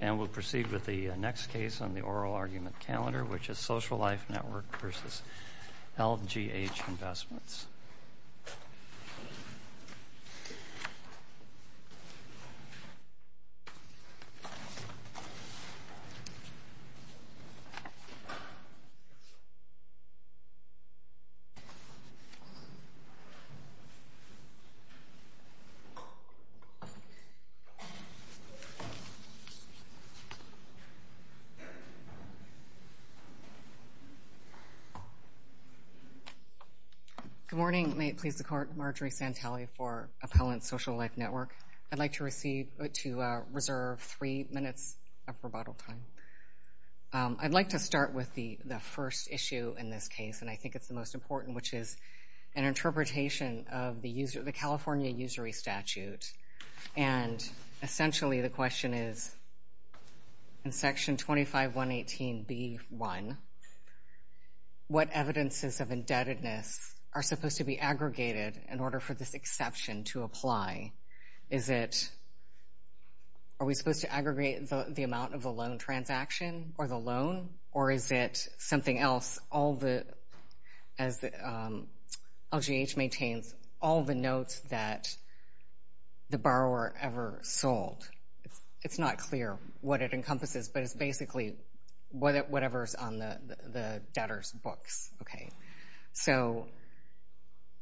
And we'll proceed with the next case on the oral argument calendar, which is Social Life Network v. LGH Investments. Good morning. May it please the Court, Marjorie Santelli for Appellant's Social Life Network. I'd like to reserve three minutes of rebuttal time. I'd like to start with the first issue in this case, and I think it's the most important, which is an interpretation of the California usury statute. And, essentially, the question is, in Section 25118b.1, what evidences of indebtedness are supposed to be aggregated in order for this exception to apply? Is it, are we supposed to aggregate the amount of the loan transaction or the loan, or is it something else, all the, as LGH maintains, all the notes that the borrower ever sold? It's not clear what it encompasses, but it's basically whatever's on the debtor's books. So,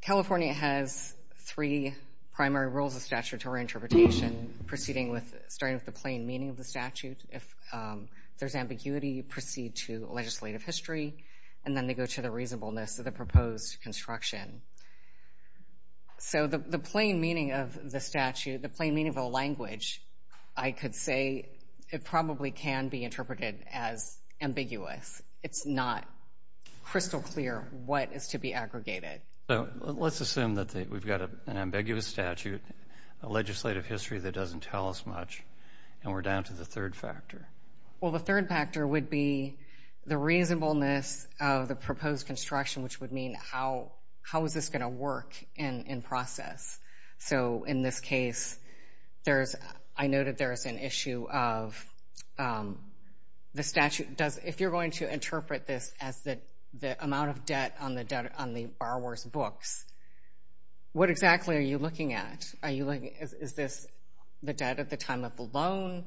California has three primary rules of statutory interpretation, proceeding with, starting with the plain meaning of the statute. If there's ambiguity, you proceed to legislative history, and then they go to the reasonableness of the proposed construction. So, the plain meaning of the statute, the plain meaning of the language, I could say it probably can be interpreted as ambiguous. It's not crystal clear what is to be aggregated. So, let's assume that we've got an ambiguous statute, a legislative history that doesn't tell us much, and we're down to the third factor. Well, the third factor would be the reasonableness of the proposed construction, which would mean how is this going to work in process. So, in this case, there's, I noted there is an issue of the statute, if you're going to interpret this as the amount of debt on the borrower's books, what exactly are you looking at? Are you looking, is this the debt at the time of the loan?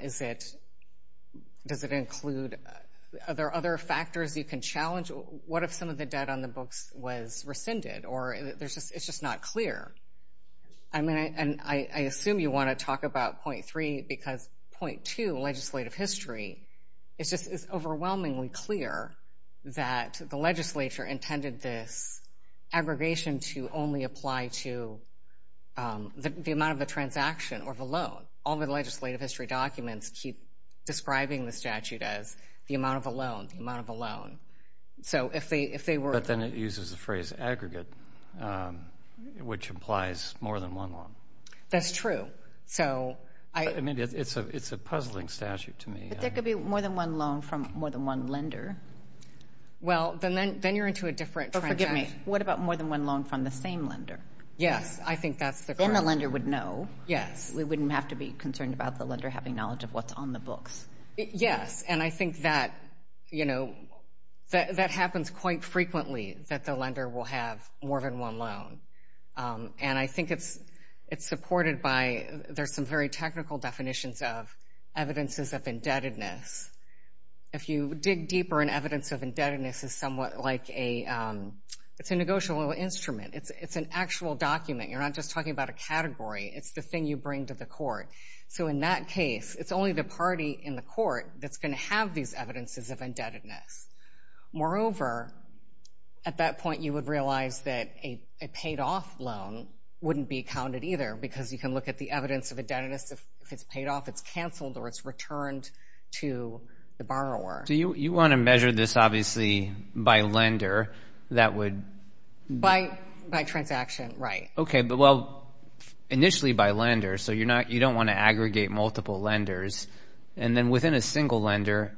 Is it, does it include, are there other factors you can challenge? What if some of the debt on the books was rescinded, or it's just not clear? I mean, and I assume you want to talk about point three, because point two, legislative history, it's just overwhelmingly clear that the legislature intended this aggregation to only apply to the amount of the transaction or the loan. All the legislative history documents keep describing the statute as the amount of a loan, the amount of a loan. So, if they were. But then it uses the phrase aggregate, which implies more than one loan. That's true. So, I. I mean, it's a puzzling statute to me. But there could be more than one loan from more than one lender. Well, then you're into a different transaction. What about more than one loan from the same lender? Yes, I think that's the. Then the lender would know. Yes. We wouldn't have to be concerned about the lender having knowledge of what's on the books. Yes, and I think that, you know, that happens quite frequently, that the lender will have more than one loan. And I think it's supported by, there's some very technical definitions of evidences of indebtedness. If you dig deeper, an evidence of indebtedness is somewhat like a, it's a negotiable instrument. It's an actual document. You're not just talking about a category. It's the thing you bring to the court. So, in that case, it's only the party in the court that's going to have these evidences of indebtedness. Moreover, at that point, you would realize that a paid-off loan wouldn't be counted either, because you can look at the evidence of indebtedness. If it's paid off, it's canceled, or it's returned to the borrower. So, you want to measure this, obviously, by lender that would... By transaction, right. Okay, but, well, initially by lender. So, you don't want to aggregate multiple lenders. And then within a single lender,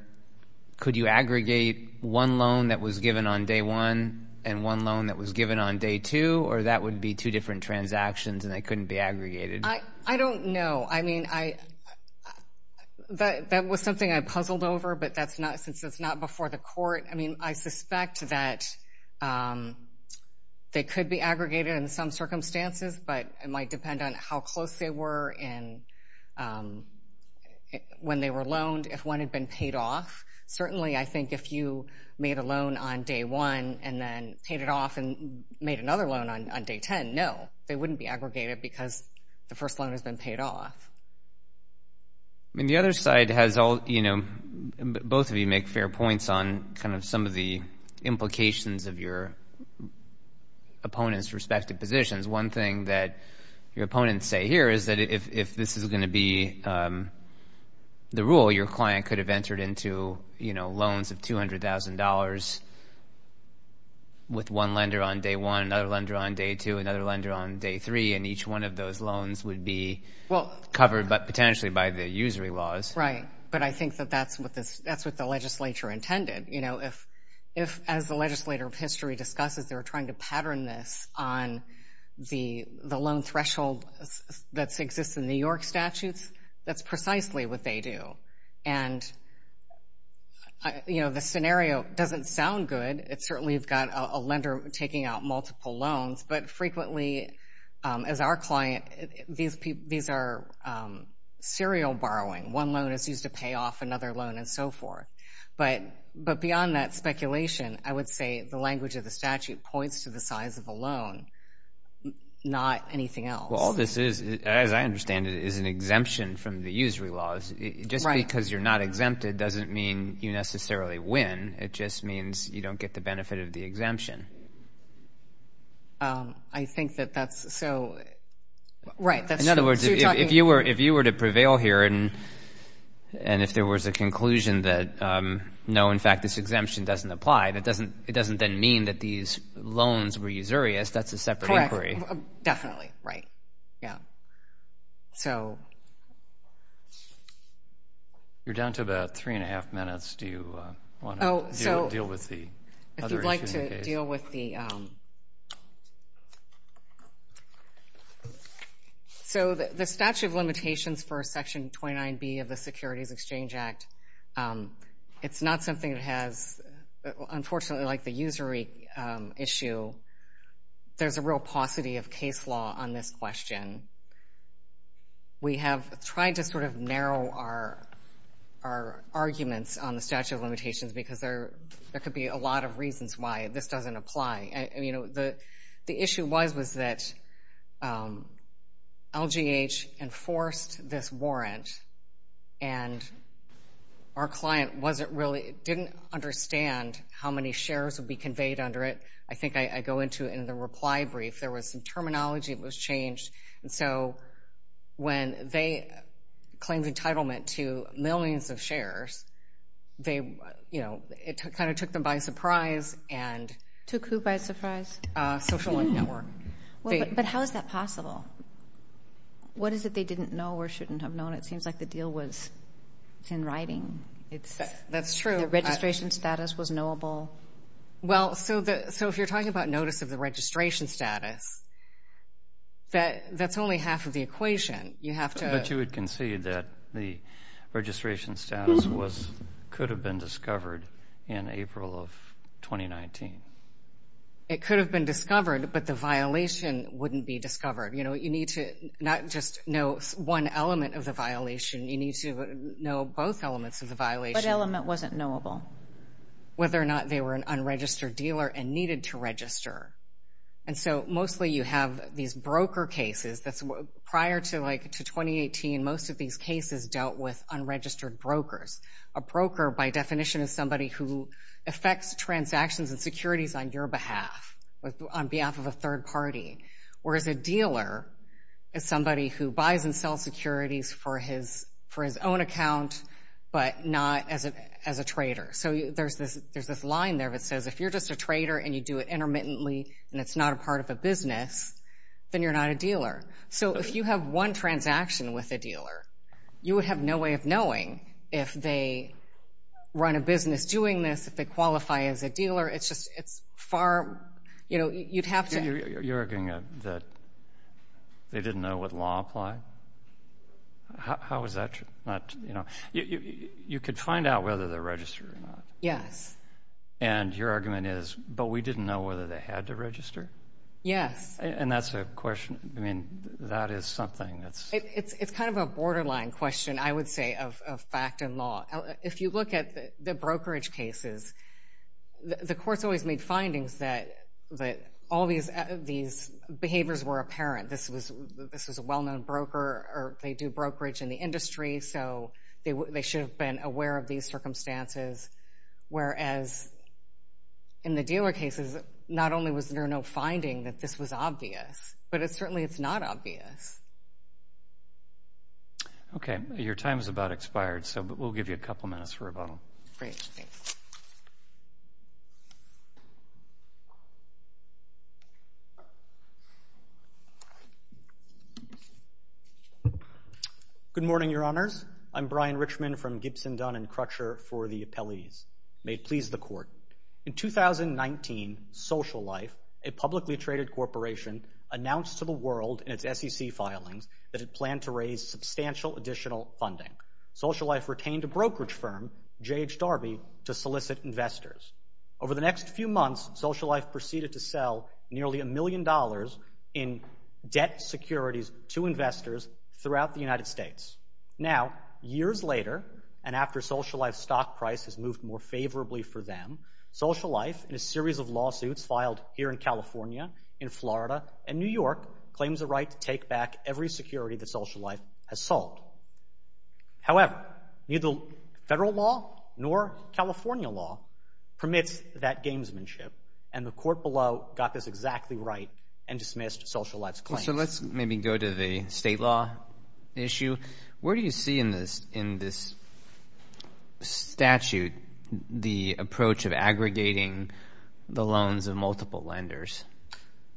could you aggregate one loan that was given on day one and one loan that was given on day two, or that would be two different transactions and they couldn't be aggregated? I don't know. I mean, that was something I puzzled over, but that's not, since it's not before the court. I mean, I suspect that they could be aggregated in some circumstances, but it might depend on how close they were when they were loaned, if one had been paid off. Certainly, I think if you made a loan on day one and then paid it off and made another loan on day 10, no. They wouldn't be aggregated because the first loan has been paid off. I mean, the other side has all, you know, both of you make fair points on kind of some of the implications of your opponent's respective positions. One thing that your opponents say here is that if this is going to be the rule, your client could have entered into, you know, loans of $200,000 with one lender on day one, another lender on day two, another lender on day three, and each one of those loans would be covered potentially by the usury laws. Right, but I think that that's what the legislature intended. You know, if, as the legislator of history discusses, they were trying to pattern this on the loan threshold that exists in New York statutes, that's precisely what they do. And, you know, the scenario doesn't sound good. Certainly you've got a lender taking out multiple loans, but frequently as our client these are serial borrowing. One loan is used to pay off another loan and so forth. But beyond that speculation, I would say the language of the statute points to the size of a loan, not anything else. Well, all this is, as I understand it, is an exemption from the usury laws. Just because you're not exempted doesn't mean you necessarily win. It just means you don't get the benefit of the exemption. I think that that's so, right. In other words, if you were to prevail here and if there was a conclusion that, no, in fact, this exemption doesn't apply, it doesn't then mean that these loans were usurious. That's a separate inquiry. Correct. Definitely. Right. Yeah. So... You're down to about three and a half minutes. Do you want to deal with the other issues? If you'd like to deal with the... So the statute of limitations for Section 29B of the Securities Exchange Act, it's not something that has, unfortunately, like the usury issue. There's a real paucity of case law on this question. We have tried to sort of narrow our arguments on the statute of limitations because there could be a lot of reasons why this doesn't apply. The issue was that LGH enforced this warrant and our client didn't understand how many shares would be conveyed under it. I think I go into it in the reply brief. There was some terminology that was changed. And so when they claimed entitlement to millions of shares, it kind of took them by surprise and... Took who by surprise? Social link network. But how is that possible? What is it they didn't know or shouldn't have known? It seems like the deal was in writing. That's true. The registration status was knowable. Well, so if you're talking about notice of the registration status, that's only half of the equation. You have to... But you would concede that the registration status could have been discovered in April of 2019. It could have been discovered, but the violation wouldn't be discovered. You know, you need to not just know one element of the violation. You need to know both elements of the violation. What element wasn't knowable? Whether or not they were an unregistered dealer and needed to register. And so mostly you have these broker cases. Prior to 2018, most of these cases dealt with unregistered brokers. A broker, by definition, is somebody who affects transactions and securities on your behalf, on behalf of a third party. Whereas a dealer is somebody who buys and sells securities for his own account, but not as a trader. So there's this line there that says if you're just a trader and you do it intermittently and it's not a part of a business, then you're not a dealer. So if you have one transaction with a dealer, you would have no way of knowing if they run a business doing this, if they qualify as a dealer. It's far... You know, you'd have to... You're arguing that they didn't know what law applied? How is that... You could find out whether they're registered or not. Yes. And your argument is, but we didn't know whether they had to register? Yes. And that's a question... I mean, that is something that's... It's kind of a borderline question, I would say, of fact and law. If you look at the brokerage cases, the courts always made findings that all these behaviors were apparent. This was a well-known broker, or they do brokerage in the industry, so they should have been aware of these circumstances. Whereas in the dealer cases, not only was there no finding that this was obvious, but certainly it's not obvious. Okay. Your time is about expired, so we'll give you a couple minutes for rebuttal. Great. Good morning, Your Honors. I'm Brian Richman from Gibson, Dunn & Crutcher for the appellees. May it please the Court. In 2019, Social Life, a publicly traded corporation, announced to the world in its SEC filings that it planned to raise substantial additional funding. Social Life retained a brokerage firm, J.H. Darby, to solicit investors. Over the next few months, Social Life proceeded to sell nearly a million dollars in debt securities to investors throughout the United States. Now, years later, and after Social Life's stock price has moved more favorably for them, Social Life, in a series of lawsuits filed here in California, in Florida, and New York, claims the right to take back every security that Social Life has sold. However, neither federal law nor California law permits that gamesmanship, and the court below got this exactly right and dismissed Social Life's claim. So let's maybe go to the state law issue. Where do you see in this statute the approach of aggregating the loans of multiple lenders?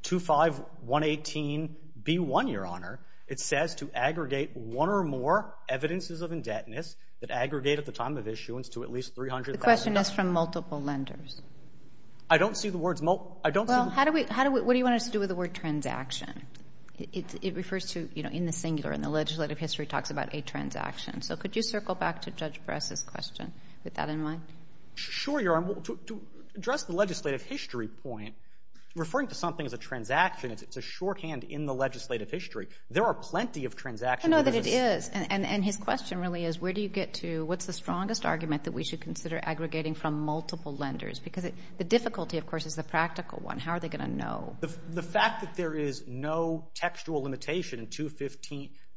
25118B1, Your Honor, it says to aggregate one or more evidences of indebtedness that aggregate at the time of issuance to at least $300,000. The question is from multiple lenders. I don't see the words multiple. Well, what do you want us to do with the word transaction? It refers to, you know, in the singular, and the legislative history talks about a transaction. So could you circle back to Judge Bress's question with that in mind? Sure, Your Honor. To address the legislative history point, referring to something as a transaction, it's a shorthand in the legislative history. There are plenty of transactions. I know that it is. And his question really is where do you get to, what's the strongest argument that we should consider aggregating from multiple lenders? Because the difficulty, of course, is the practical one. How are they going to know? The fact that there is no textual limitation in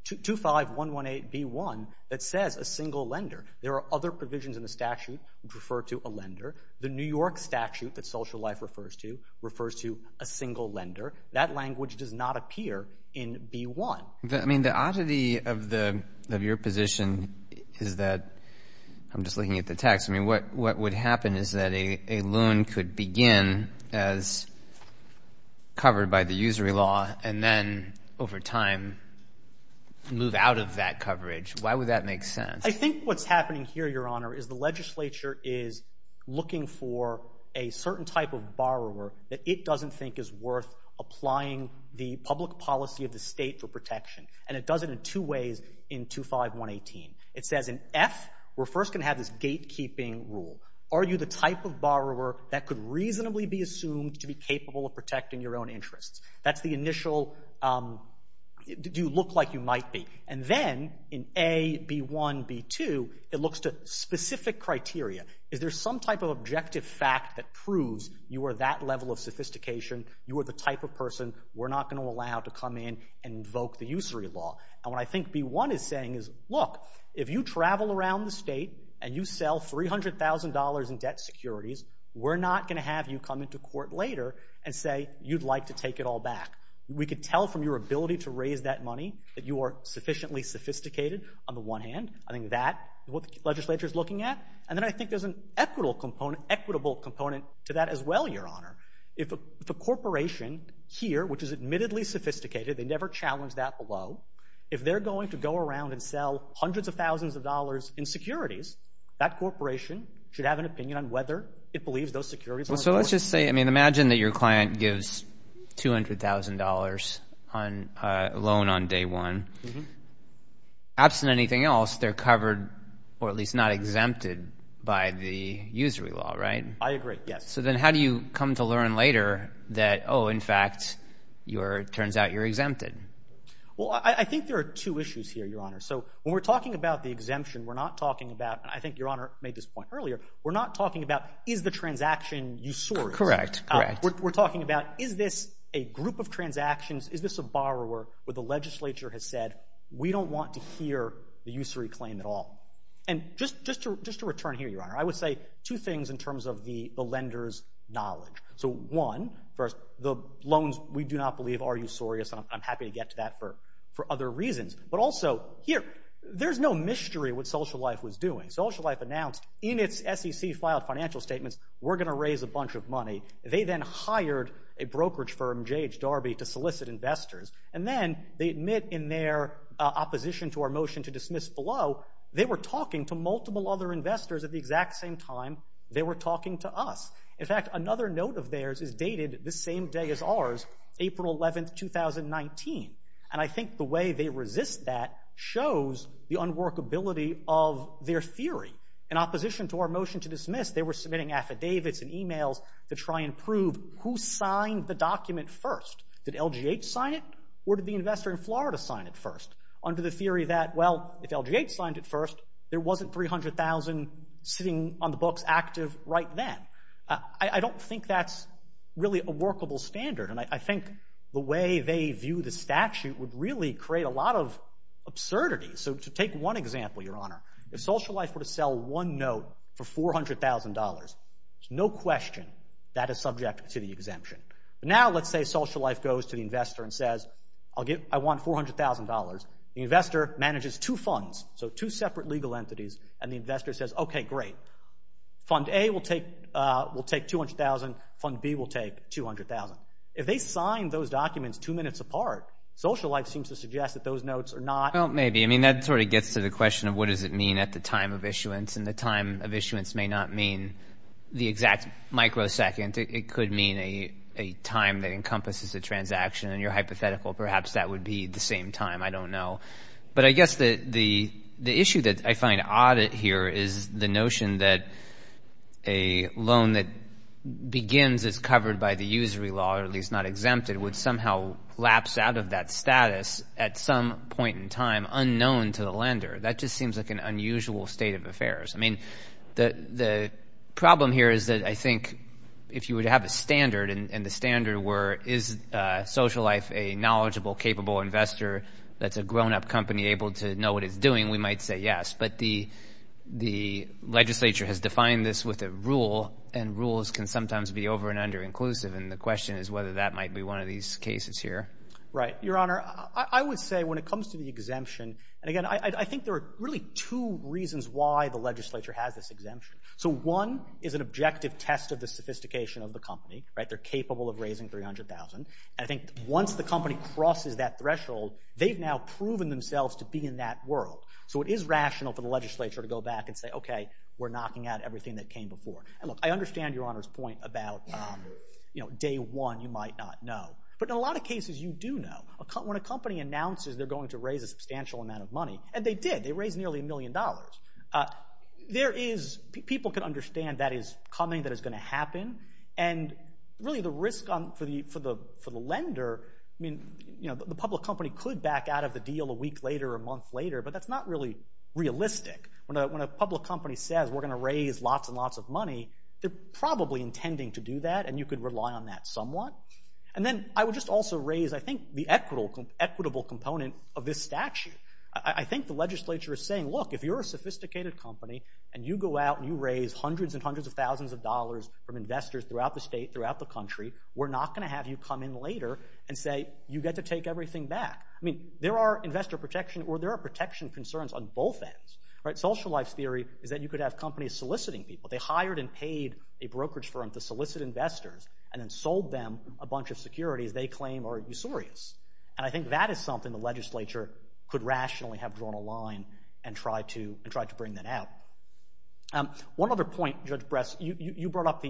25118B1 that says a single lender. There are other provisions in the statute that refer to a lender. The New York statute that Social Life refers to refers to a single lender. That language does not appear in B1. I mean, the oddity of your position is that I'm just looking at the text. I mean, what would happen is that a loan could begin as covered by the usury law and then over time move out of that coverage. Why would that make sense? I think what's happening here, Your Honor, is the legislature is looking for a certain type of borrower that it doesn't think is worth applying the public policy of the state for protection. And it does it in two ways in 25118. It says in F, we're first going to have this gatekeeping rule. Are you the type of borrower that could reasonably be assumed to be capable of protecting your own interests? That's the initial, do you look like you might be? And then in A, B1, B2, it looks to specific criteria. Is there some type of objective fact that proves you are that level of sophistication? You are the type of person we're not going to allow to come in and invoke the usury law. And what I think B1 is saying is, look, if you travel around the state and you sell $300,000 in debt securities, we're not going to have you come into court later and say you'd like to take it all back. We could tell from your ability to raise that money that you are sufficiently sophisticated on the one hand. I think that is what the legislature is looking at. And then I think there's an equitable component to that as well, Your Honor. If the corporation here, which is admittedly sophisticated, they never challenge that below, if they're going to go around and sell hundreds of thousands of dollars in securities, that corporation should have an opinion on whether it believes those securities are important. So let's just say, I mean, imagine that your client gives $200,000 loan on day one. Absent anything else, they're covered or at least not exempted by the usury law, right? I agree, yes. So then how do you come to learn later that, oh, in fact, it turns out you're exempted? Well, I think there are two issues here, Your Honor. So when we're talking about the exemption, we're not talking about, and I think Your Honor made this point earlier, we're not talking about is the transaction usurious. Correct, correct. We're talking about is this a group of transactions, is this a borrower where the legislature has said, we don't want to hear the usury claim at all. And just to return here, Your Honor, I would say two things in terms of the lender's knowledge. So one, the loans we do not believe are usurious, and I'm happy to get to that for other reasons. But also here, there's no mystery what Social Life was doing. Social Life announced in its SEC-filed financial statements, we're going to raise a bunch of money. They then hired a brokerage firm, J.H. Darby, to solicit investors. And then they admit in their opposition to our motion to dismiss below, they were talking to multiple other investors at the exact same time they were talking to us. In fact, another note of theirs is dated the same day as ours, April 11, 2019. And I think the way they resist that shows the unworkability of their theory. In opposition to our motion to dismiss, they were submitting affidavits and e-mails to try and prove who signed the document first. Did LGH sign it, or did the investor in Florida sign it first? Under the theory that, well, if LGH signed it first, there wasn't $300,000 sitting on the books active right then. I don't think that's really a workable standard, and I think the way they view the statute would really create a lot of absurdity. So to take one example, Your Honor, if Social Life were to sell one note for $400,000, there's no question that is subject to the exemption. But now let's say Social Life goes to the investor and says, I want $400,000. The investor manages two funds, so two separate legal entities, and the investor says, okay, great. Fund A will take $200,000. Fund B will take $200,000. If they sign those documents two minutes apart, Social Life seems to suggest that those notes are not. Well, maybe. I mean, that sort of gets to the question of what does it mean at the time of issuance, and the time of issuance may not mean the exact microsecond. It could mean a time that encompasses a transaction, and you're hypothetical. Perhaps that would be the same time. I don't know. But I guess the issue that I find odd here is the notion that a loan that begins as covered by the usury law, or at least not exempted, would somehow lapse out of that status at some point in time unknown to the lender. That just seems like an unusual state of affairs. I mean, the problem here is that I think if you were to have a standard, and the standard were is Social Life a knowledgeable, capable investor that's a grown-up company able to know what it's doing, we might say yes. But the legislature has defined this with a rule, and rules can sometimes be over- and the question is whether that might be one of these cases here. Right. Your Honor, I would say when it comes to the exemption, and, again, I think there are really two reasons why the legislature has this exemption. So one is an objective test of the sophistication of the company, right? They're capable of raising $300,000. I think once the company crosses that threshold, they've now proven themselves to be in that world. So it is rational for the legislature to go back and say, okay, we're knocking out everything that came before. And, look, I understand Your Honor's point about day one you might not know. But in a lot of cases you do know. When a company announces they're going to raise a substantial amount of money, and they did. They raised nearly a million dollars. People can understand that is coming, that is going to happen, and really the risk for the lender, I mean, the public company could back out of the deal a week later or a month later, but that's not really realistic. When a public company says we're going to raise lots and lots of money, they're probably intending to do that, and you could rely on that somewhat. And then I would just also raise, I think, the equitable component of this statute. I think the legislature is saying, look, if you're a sophisticated company and you go out and you raise hundreds and hundreds of thousands of dollars from investors throughout the state, throughout the country, we're not going to have you come in later and say you get to take everything back. I mean, there are investor protection or there are protection concerns on both ends. Social Life's theory is that you could have companies soliciting people. They hired and paid a brokerage firm to solicit investors and then sold them a bunch of securities they claim are usurious. And I think that is something the legislature could rationally have drawn a line and tried to bring that out. One other point, Judge Bress, you brought up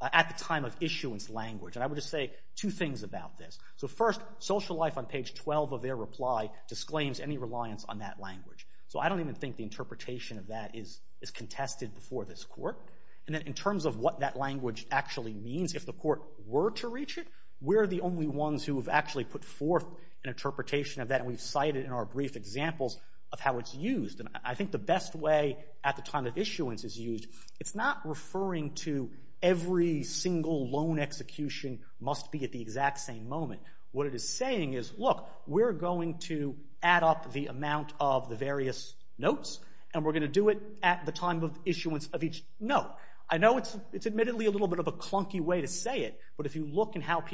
at the time of issuance language, and I would just say two things about this. So first, Social Life on page 12 of their reply disclaims any reliance on that language. So I don't even think the interpretation of that is contested before this court. And then in terms of what that language actually means, if the court were to reach it, we're the only ones who have actually put forth an interpretation of that, and we've cited in our brief examples of how it's used. And I think the best way at the time of issuance is used, it's not referring to every single loan execution must be at the exact same moment. What it is saying is, look, we're going to add up the amount of the various notes, and we're going to do it at the time of issuance of each note. I know it's admittedly a little bit of a clunky way to say it, but if you look at how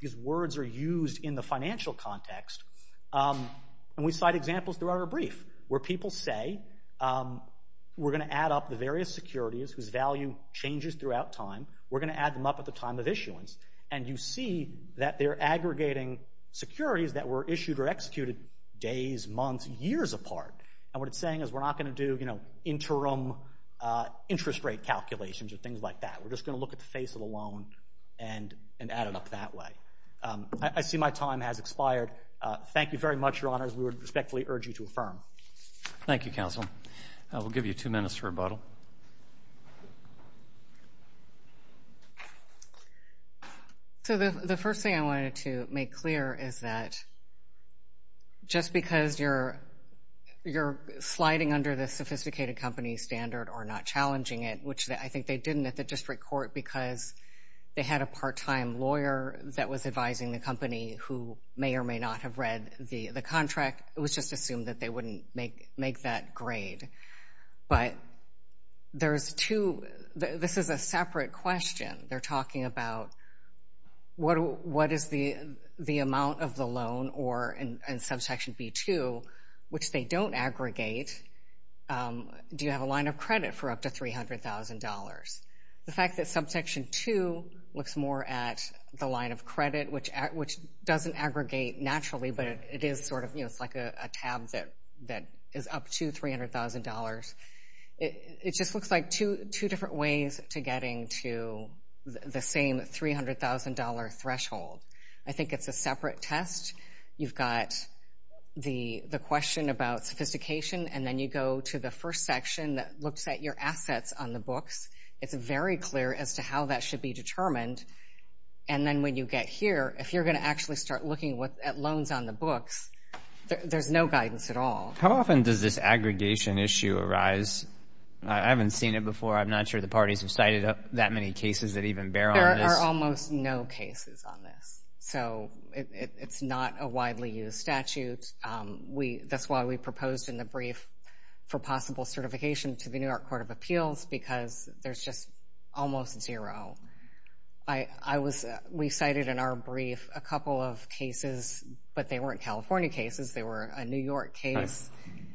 these words are used in the financial context, and we cite examples throughout our brief where people say, we're going to add up the various securities whose value changes throughout time, we're going to add them up at the time of issuance, and you see that they're aggregating securities that were issued or executed days, months, years apart. And what it's saying is we're not going to do, you know, interim interest rate calculations or things like that. We're just going to look at the face of the loan and add it up that way. I see my time has expired. Thank you very much, Your Honors. We would respectfully urge you to affirm. Thank you, Counsel. We'll give you two minutes for rebuttal. So the first thing I wanted to make clear is that just because you're sliding under the sophisticated company standard or not challenging it, which I think they didn't at the district court because they had a part-time lawyer that was advising the company who may or may not have read the contract, it was just assumed that they wouldn't make that grade. But there's two, this is a separate question. They're talking about what is the amount of the loan or in Subsection B-2, which they don't aggregate, do you have a line of credit for up to $300,000? The fact that Subsection 2 looks more at the line of credit, which doesn't aggregate naturally, but it is sort of, you know, it's like a tab that is up to $300,000. It just looks like two different ways to getting to the same $300,000 threshold. I think it's a separate test. You've got the question about sophistication, and then you go to the first section that looks at your assets on the books. It's very clear as to how that should be determined. And then when you get here, if you're going to actually start looking at loans on the books, there's no guidance at all. How often does this aggregation issue arise? I haven't seen it before. I'm not sure the parties have cited that many cases that even bear on this. There are almost no cases on this. So it's not a widely used statute. That's why we proposed in the brief for possible certification to the New York Court of Appeals, because there's just almost zero. We cited in our brief a couple of cases, but they weren't California cases. They were a New York case,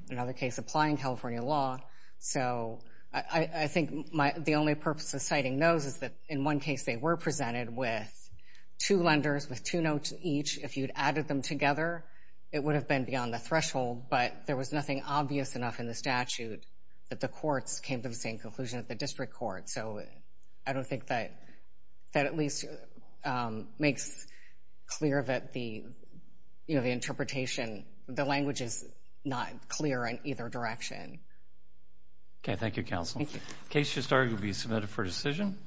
another case applying California law. So I think the only purpose of citing those is that in one case they were presented with two lenders with two notes each. If you'd added them together, it would have been beyond the threshold, but there was nothing obvious enough in the statute that the courts came to the same conclusion at the district court. So I don't think that at least makes clear that the interpretation, the language is not clear in either direction. Okay. Thank you, Counsel. Thank you. Case just argued will be submitted for decision.